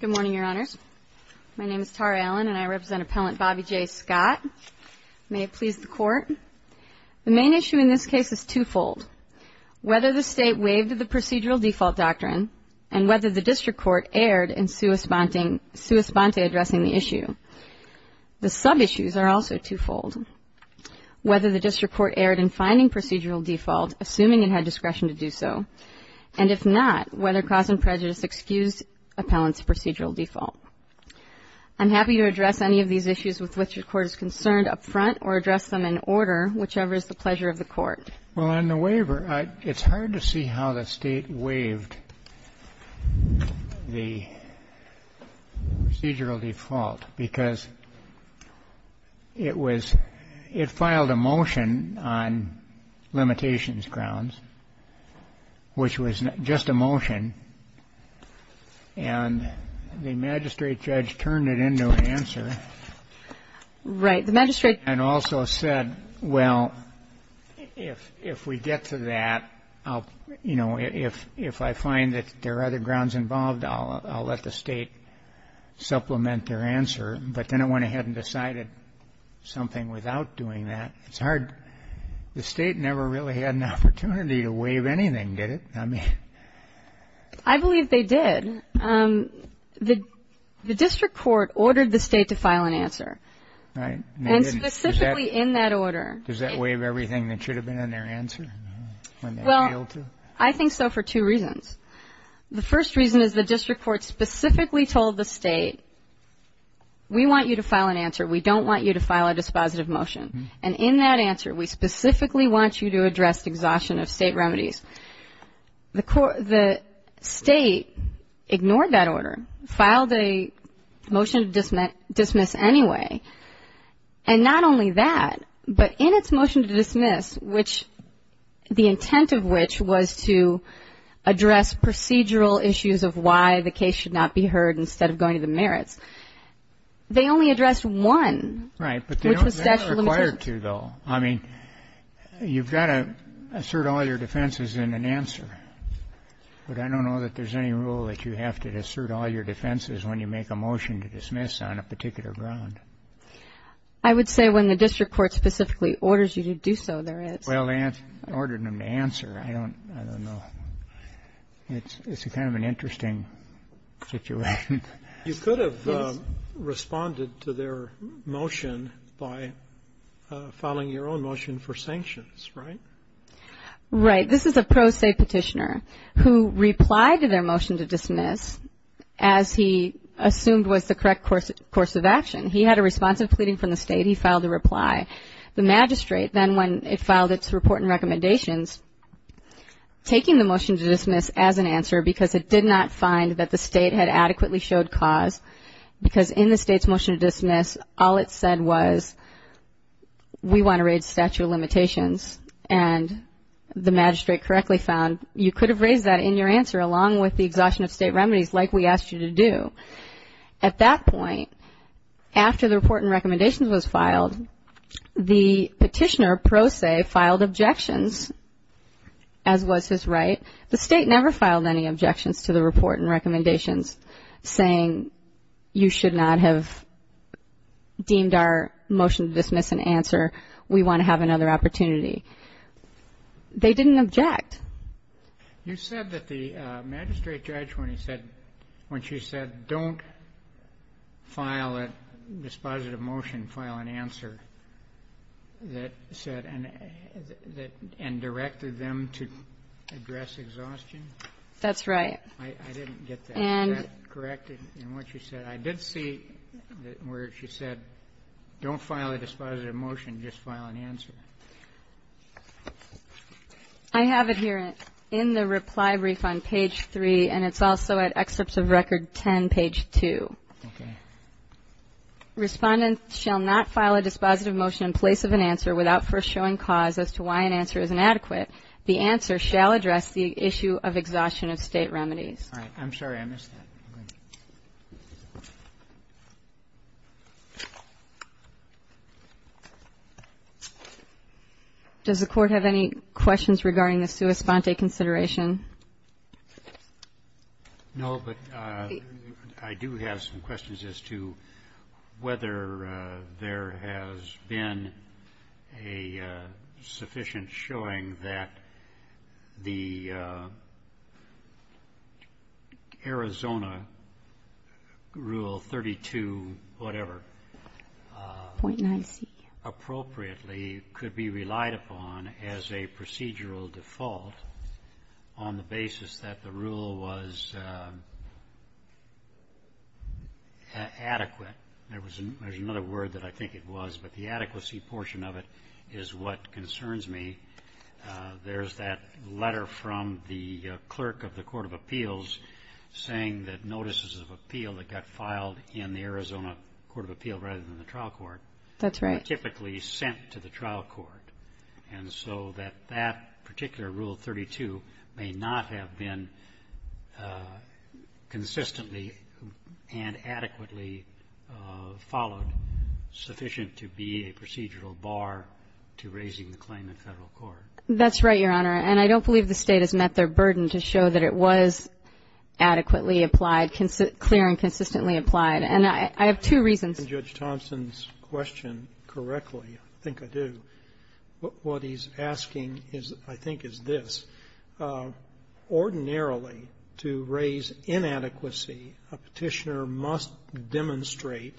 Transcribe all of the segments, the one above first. Good morning, Your Honors. My name is Tara Allen, and I represent Appellant Bobby J. Scott. May it please the Court. The main issue in this case is twofold, whether the State waived the procedural default doctrine and whether the District Court erred in sua sponte addressing the issue. The sub-issues are also twofold, whether the District Court erred in finding procedural default, assuming it was within my discretion to do so, and if not, whether cause and prejudice excused Appellant's procedural default. I'm happy to address any of these issues with which your Court is concerned up front or address them in order, whichever is the pleasure of the Court. Well, on the waiver, it's hard to see how the State waived the procedural default because it was — it filed a motion on limitations grounds, which was just a motion, and the magistrate judge turned it into an answer. Right. The magistrate — And also said, well, if we get to that, you know, if I find that there are other grounds involved, I'll let the State supplement their answer. But then it went ahead and decided something without doing that. It's hard. The State never really had an opportunity to waive anything, did it? I believe they did. The District Court ordered the State to file an answer. Right. And they didn't. And specifically in that order — Does that waive everything that should have been in their answer when they failed to? Well, I think so for two reasons. The first reason is the District Court specifically told the State, we want you to file an answer, we don't want you to file a dispositive motion. And in that answer, we specifically want you to address exhaustion of State remedies. The State ignored that order, filed a motion to dismiss anyway. And not only that, but in its motion to dismiss, which — the intent of which was to address procedural issues of why the case should not be heard instead of going to the merits, they only addressed one, which was statute of limitations. Right. But they don't require two, though. I mean, you've got to assert all your defenses in an answer, but I don't know that there's any rule that you have to assert all your defenses when you make a motion to dismiss on a particular ground. I would say when the District Court specifically orders you to do so, there is. Well, they ordered them to answer. I don't know. It's kind of an interesting situation. You could have responded to their motion by filing your own motion for sanctions, right? Right. This is a pro se petitioner who replied to their motion to dismiss as he assumed was the correct course of action. He had a responsive pleading from the State. He filed a reply. The magistrate then, when it filed its report and recommendations, taking the motion to dismiss as an answer because it did not find that the State had adequately showed cause, because in the State's motion to dismiss, all it said was, we want to raise statute of limitations. And the magistrate correctly found you could have raised that in your answer along with the exhaustion of State remedies like we asked you to do. At that point, after the report and recommendations was filed, the petitioner pro se filed objections, as was his right. The State never filed any objections to the report and recommendations saying you should not have deemed our motion to dismiss an answer. We want to have another opportunity. They didn't object. You said that the magistrate judge, when he said, when she said don't file a dispositive motion, file an answer that said and directed them to address exhaustion. That's right. I didn't get that corrected in what you said. I did see where she said don't file a dispositive motion, just file an answer. I have it here in the reply brief on page 3, and it's also at excerpts of record 10, page 2. Okay. Respondent shall not file a dispositive motion in place of an answer without first showing cause as to why an answer is inadequate. The answer shall address the issue of exhaustion of State remedies. All right. I'm sorry, I missed that. Does the Court have any questions regarding the sua sponte consideration? No, but I do have some questions as to whether there has been a sufficient showing that the Arizona Rule 32-whatever appropriately could be relied upon as a procedural default on the basis that the rule was adequate. There's another word that I think it was, but the adequacy portion of it is what concerns me. There's that letter from the clerk of the Court of Appeals saying that notices of appeal that got filed in the Arizona Court of Appeals rather than the trial court were typically sent to the trial court. And so that that particular Rule 32 may not have been consistently and adequately followed sufficient to be a procedural bar to raising the claim in Federal court. That's right, Your Honor. And I don't believe the State has met their burden to show that it was adequately applied, clear and consistently applied. And I have two reasons. I understand Judge Thompson's question correctly. I think I do. What he's asking is, I think, is this. Ordinarily, to raise inadequacy, a Petitioner must demonstrate,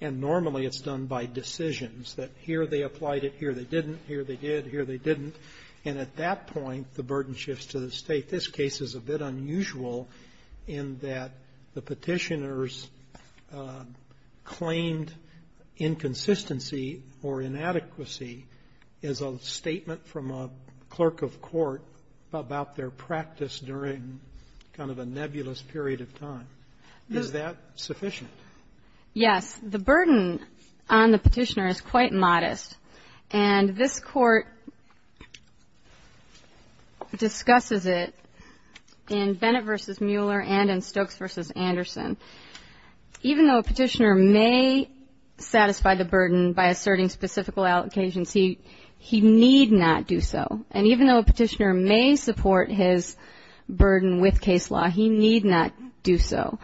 and normally it's done by decisions, that here they applied it, here they didn't, here they did, here they didn't. And at that point, the burden shifts to the State. I think this case is a bit unusual in that the Petitioner's claimed inconsistency or inadequacy is a statement from a clerk of court about their practice during kind of a nebulous period of time. Is that sufficient? Yes. The burden on the Petitioner is quite modest. And this Court discusses it in Bennett v. Mueller and in Stokes v. Anderson. Even though a Petitioner may satisfy the burden by asserting specific allocations, he need not do so. And even though a Petitioner may support his burden with case law, he need not do so.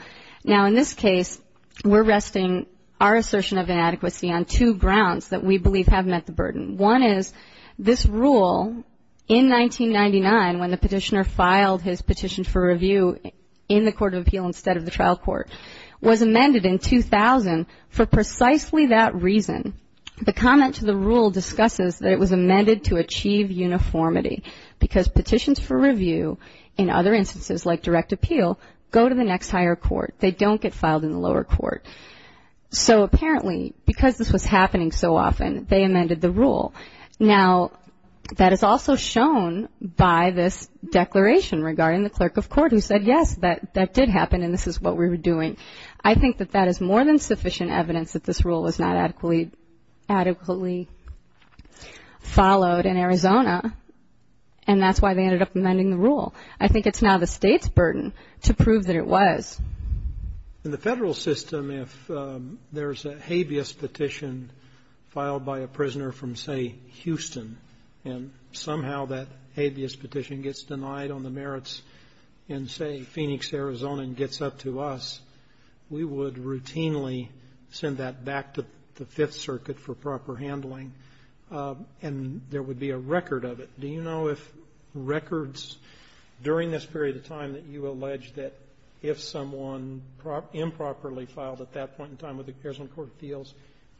Now, in this case, we're resting our assertion of inadequacy on two grounds that we believe have met the burden. One is this rule in 1999, when the Petitioner filed his petition for review in the Court of Appeal instead of the trial court, was amended in 2000 for precisely that reason. The comment to the rule discusses that it was amended to achieve uniformity because petitions for review in other instances, like direct appeal, go to the next higher court. They don't get filed in the lower court. So apparently, because this was happening so often, they amended the rule. Now, that is also shown by this declaration regarding the clerk of court who said, yes, that did happen and this is what we were doing. I think that that is more than sufficient evidence that this rule was not adequately followed in Arizona, and that's why they ended up amending the rule. I think it's now the State's burden to prove that it was. In the Federal system, if there's a habeas petition filed by a prisoner from, say, Houston, and somehow that habeas petition gets denied on the merits in, say, Phoenix, Arizona and gets up to us, we would routinely send that back to the Fifth Circuit for proper handling, and there would be a record of it. Do you know if records during this period of time that you allege that if someone improperly filed at that point in time with the Arizona Court of Appeals,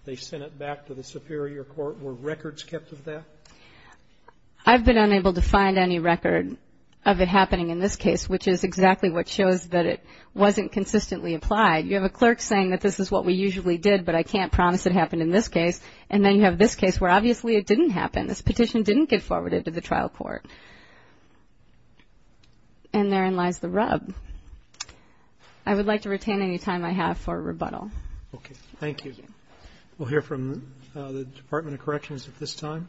they sent it back to the superior court, were records kept of that? I've been unable to find any record of it happening in this case, which is exactly what shows that it wasn't consistently applied. You have a clerk saying that this is what we usually did, but I can't promise it happened in this case, and then you have this case where obviously it didn't happen. This petition didn't get forwarded to the trial court. And therein lies the rub. I would like to retain any time I have for rebuttal. Okay. Thank you. We'll hear from the Department of Corrections at this time.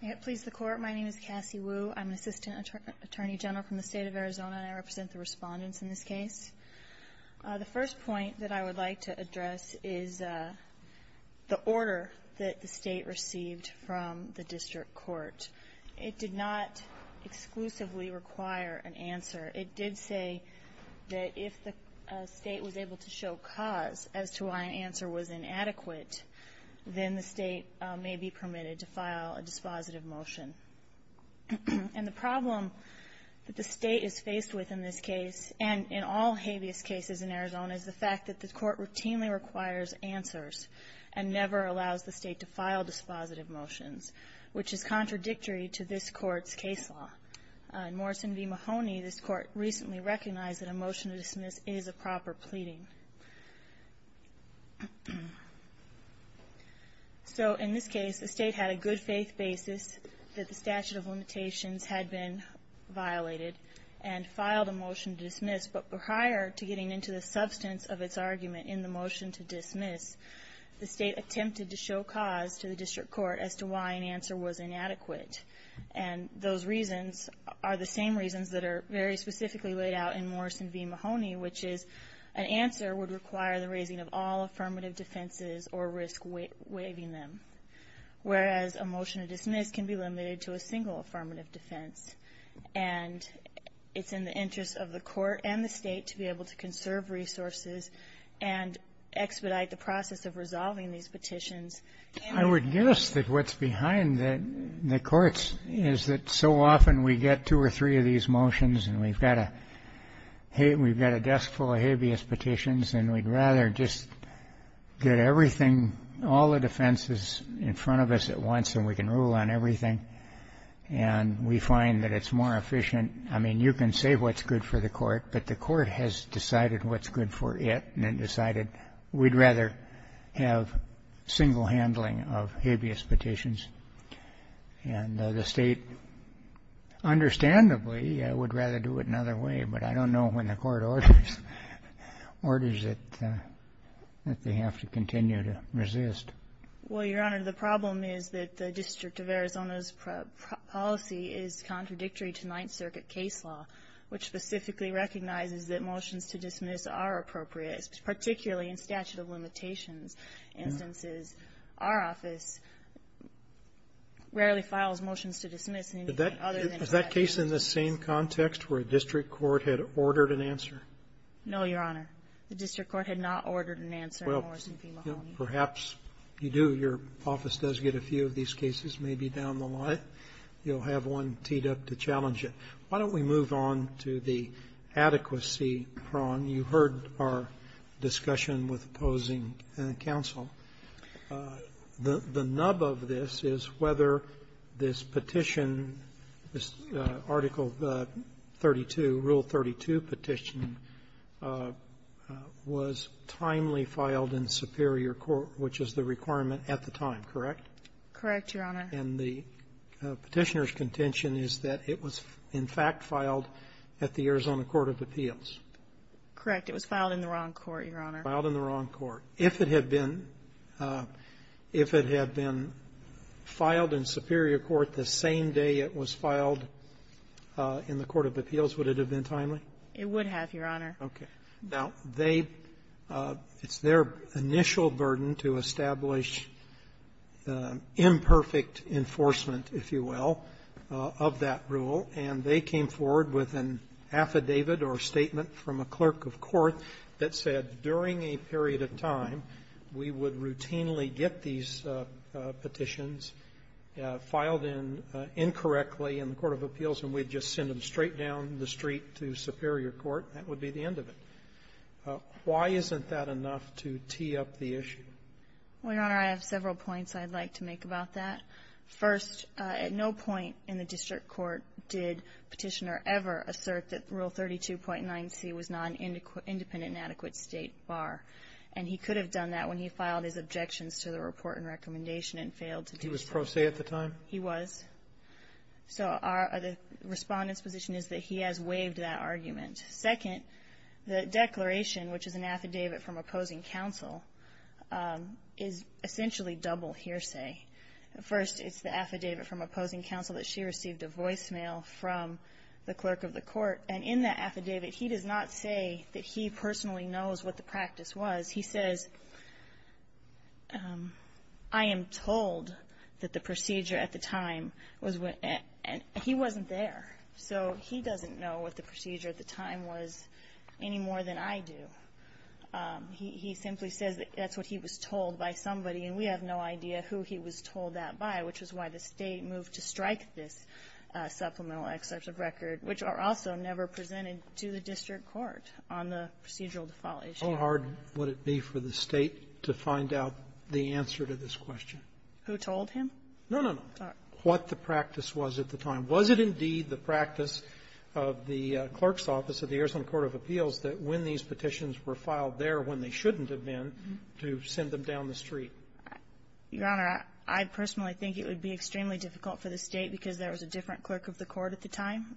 May it please the Court. My name is Cassie Wu. I'm an assistant attorney general from the State of Arizona, and I represent the Respondents in this case. The first point that I would like to address is the order that the State received from the district court. It did not exclusively require an answer. It did say that if the State was able to show cause as to why an answer was inadequate, then the State may be permitted to file a dispositive motion. And the problem that the State is faced with in this case and in all habeas cases in Arizona is the fact that the Court routinely requires answers and never allows the State to file dispositive motions, which is contradictory to this Court's case law. In Morrison v. Mahoney, this Court recently recognized that a motion to dismiss is a proper pleading. So in this case, the State had a good faith basis that the statute of limitations had been violated and filed a motion to dismiss. But prior to getting into the substance of its argument in the motion to dismiss, the State attempted to show cause to the district court as to why an answer was inadequate. And those reasons are the same reasons that are very specifically laid out in Morrison v. Mahoney, which is an answer would require the raising of all affirmative defenses or risk waiving them, whereas a motion to dismiss can be limited to a single affirmative defense. And it's in the interest of the Court and the State to be able to conserve resources and expedite the process of resolving these petitions. I would guess that what's behind the courts is that so often we get two or three of these motions and we've got a desk full of habeas petitions, and we'd rather just get everything, all the defenses in front of us at once and we can rule on everything. And we find that it's more efficient. I mean, you can say what's good for the Court, but the Court has decided what's good for it and decided we'd rather have single handling of habeas petitions. And the State, understandably, would rather do it another way, but I don't know when the Court orders it that they have to continue to resist. Well, Your Honor, the problem is that the District of Arizona's policy is contradictory to Ninth Circuit case law, which specifically recognizes that motions to dismiss are appropriate, particularly in statute of limitations instances. Our office rarely files motions to dismiss in anything other than a statute of limitations. Is that case in the same context where a district court had ordered an answer? No, Your Honor. The district court had not ordered an answer in Morrison v. Mahoney. Well, perhaps you do. Your office does get a few of these cases, maybe down the line. You'll have one teed up to challenge it. Why don't we move on to the adequacy prong? And you heard our discussion with opposing counsel. The nub of this is whether this petition, this Article 32, Rule 32 petition, was timely filed in superior court, which is the requirement at the time, correct? Correct, Your Honor. And the Petitioner's contention is that it was, in fact, filed at the Arizona Court of Appeals. Correct. It was filed in the wrong court, Your Honor. Filed in the wrong court. If it had been, if it had been filed in superior court the same day it was filed in the Court of Appeals, would it have been timely? It would have, Your Honor. Okay. Now, they, it's their initial burden to establish imperfect enforcement, if you will, of that rule. And they came forward with an affidavit or statement from a clerk of court that said during a period of time, we would routinely get these petitions filed in incorrectly in the Court of Appeals, and we'd just send them straight down the street to superior court. That would be the end of it. Why isn't that enough to tee up the issue? Well, Your Honor, I have several points I'd like to make about that. First, at no point in the district court did Petitioner ever assert that Rule 32.9c was not an independent and adequate State bar. And he could have done that when he filed his objections to the report and recommendation and failed to do so. He was pro se at the time? He was. So our, the Respondent's position is that he has waived that argument. Second, the declaration, which is an affidavit from opposing counsel, is essentially double hearsay. First, it's the affidavit from opposing counsel that she received a voicemail from the clerk of the court. And in that affidavit, he does not say that he personally knows what the practice was. He says, I am told that the procedure at the time was, and he wasn't there. So he doesn't know what the procedure at the time was any more than I do. He simply says that's what he was told by somebody. And we have no idea who he was told that by, which is why the State moved to strike this supplemental excerpt of record, which are also never presented to the district court on the procedural default issue. How hard would it be for the State to find out the answer to this question? Who told him? No, no, no. What the practice was at the time. Was it indeed the practice of the clerk's office of the Arizona Court of Appeals that when these petitions were filed there when they shouldn't have been to send them down the street? Your Honor, I personally think it would be extremely difficult for the State because there was a different clerk of the court at the time.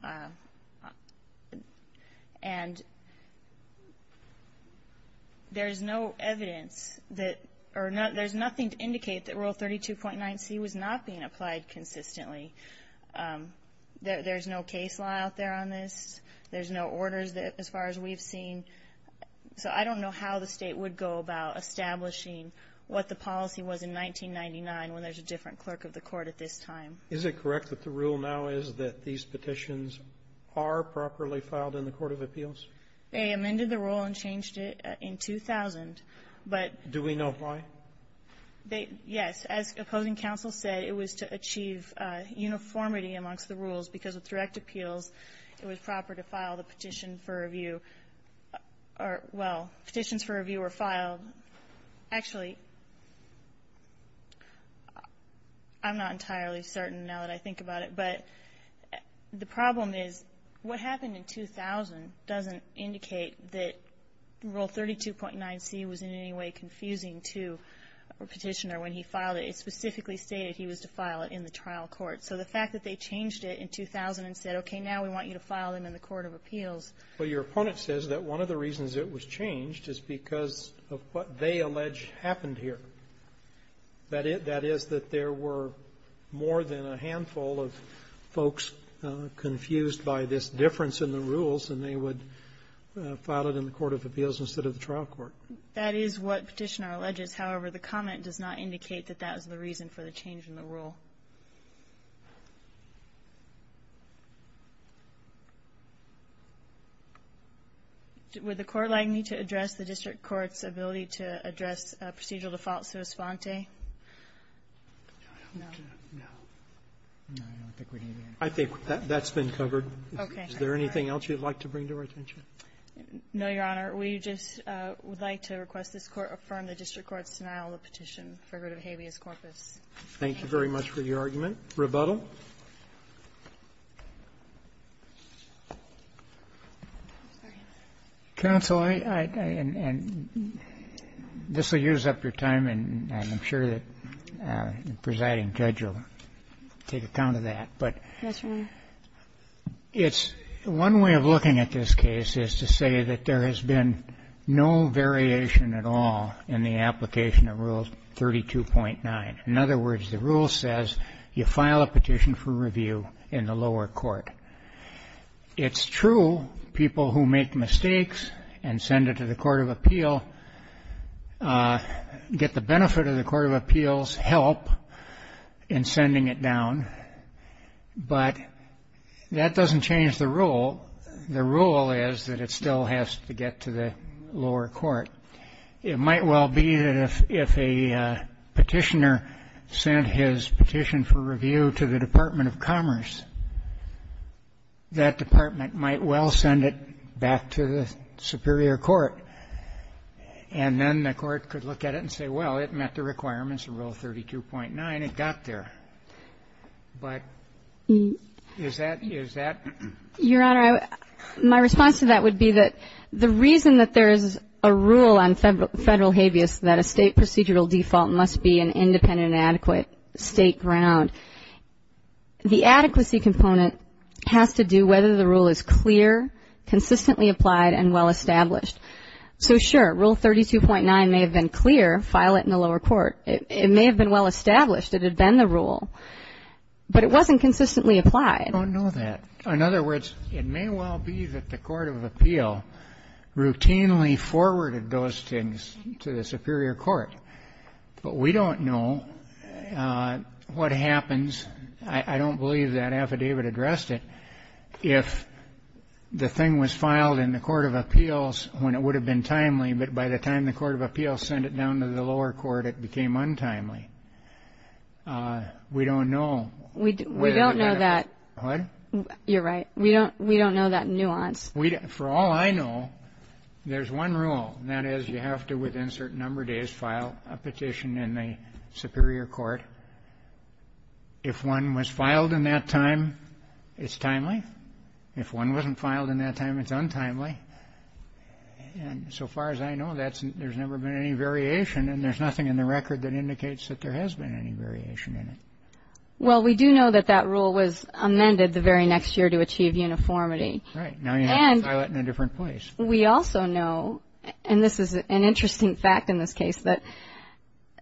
And there's no evidence that, or there's nothing to indicate that Rule 32.9C was not being applied consistently. There's no case law out there on this. There's no orders that, as far as we've seen. So I don't know how the State would go about establishing what the policy was in 1999 when there's a different clerk of the court at this time. Is it correct that the rule now is that these petitions are properly filed in the Court of Appeals? They amended the rule and changed it in 2000. But do we know why? They, yes. As opposing counsel said, it was to achieve uniformity amongst the rules. Because with direct appeals, it was proper to file the petition for review or, well, petitions for review were filed. Actually, I'm not entirely certain now that I think about it. But the problem is what happened in 2000 doesn't indicate that Rule 32.9C was in any way confusing to a petitioner when he filed it. It specifically stated he was to file it in the trial court. So the fact that they changed it in 2000 and said, okay, now we want you to file them in the Court of Appeals. Well, your opponent says that one of the reasons it was changed is because of what they allege happened here. That it that is that there were more than a handful of folks confused by this difference in the rules, and they would file it in the Court of Appeals instead of the trial court. That is what Petitioner alleges. However, the comment does not indicate that that was the reason for the change in the rule. Would the Court like me to address the district court's ability to address procedural default sua sponte? No. No. No, I don't think we need any more. I think that's been covered. Okay. Is there anything else you'd like to bring to our attention? No, Your Honor. We just would like to request this Court affirm the district court's denial of the petition for good of habeas corpus. Thank you very much for your argument. Rebuttal. Counsel, I and this will use up your time, and I'm sure that the presiding judge will take account of that, but it's one way of looking at this case is to say that there has been no variation at all in the application of Rule 32.9. In other words, the rule says you file a petition for review in the lower court. It's true, people who make mistakes and send it to the Court of Appeal get the benefit of the Court of Appeal's help in sending it down, but that doesn't change the rule. The rule is that it still has to get to the lower court. It might well be that if a petitioner sent his petition for review to the Department of Commerce, that department might well send it back to the superior court, and then the court could look at it and say, well, it met the requirements of Rule 32.9. It got there. But is that? Is that? Your Honor, my response to that would be that the reason that there is a rule on federal habeas, that a state procedural default must be an independent and adequate state ground, the adequacy component has to do whether the rule is clear, consistently applied, and well-established. So sure, Rule 32.9 may have been clear, file it in the lower court. It may have been well-established. It had been the rule, but it wasn't consistently applied. I don't know that. In other words, it may well be that the Court of Appeal routinely forwarded those things to the superior court, but we don't know what happens. I don't believe that affidavit addressed it. If the thing was filed in the Court of Appeals when it would have been timely, but by the time the Court of Appeals sent it down to the lower court, it became untimely. We don't know. We don't know that. What? You're right. We don't know that nuance. For all I know, there's one rule, and that is you have to, within a certain number of days, file a petition in the superior court. If one was filed in that time, it's timely. If one wasn't filed in that time, it's untimely. And so far as I know, there's never been any variation, and there's nothing in the record that indicates that there has been any variation in it. Well, we do know that that rule was amended the very next year to achieve uniformity. Right. Now you have to file it in a different place. We also know, and this is an interesting fact in this case, that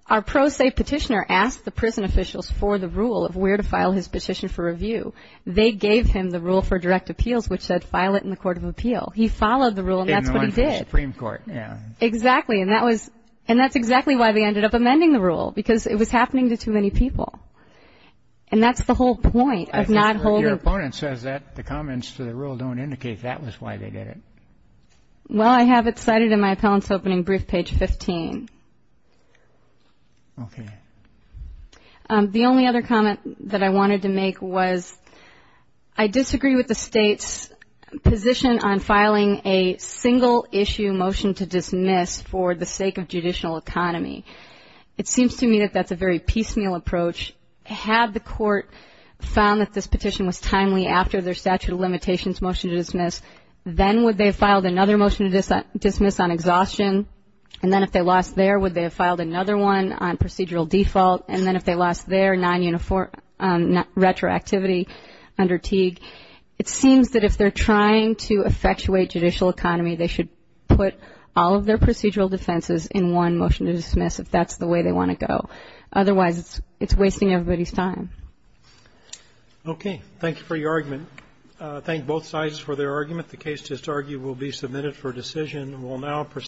our pro se petitioner asked the prison officials for the rule of where to file his petition for review. They gave him the rule for direct appeals, which said, file it in the Court of Appeal. He followed the rule, and that's what he did. In the Supreme Court, yeah. Exactly. And that's exactly why they ended up amending the rule, because it was happening to too many people. And that's the whole point of not holding. Your opponent says that the comments to the rule don't indicate that was why they did it. Well, I have it cited in my appellant's opening brief, page 15. OK. The only other comment that I wanted to make was I disagree with the state's position on filing a single issue motion to dismiss for the sake of judicial economy. It seems to me that that's a very piecemeal approach. Had the court found that this petition was timely after their statute of limitations motion to dismiss, then would they have filed another motion to dismiss on exhaustion? And then if they lost there, would they have filed another one on procedural default? And then if they lost their non-uniform retroactivity under Teague, it seems that if they're trying to effectuate judicial economy, they should put all of their If that's the way they want to go. Otherwise, it's wasting everybody's time. OK. Thank you for your argument. Thank both sides for their argument. The case to argue will be submitted for decision. We'll now proceed.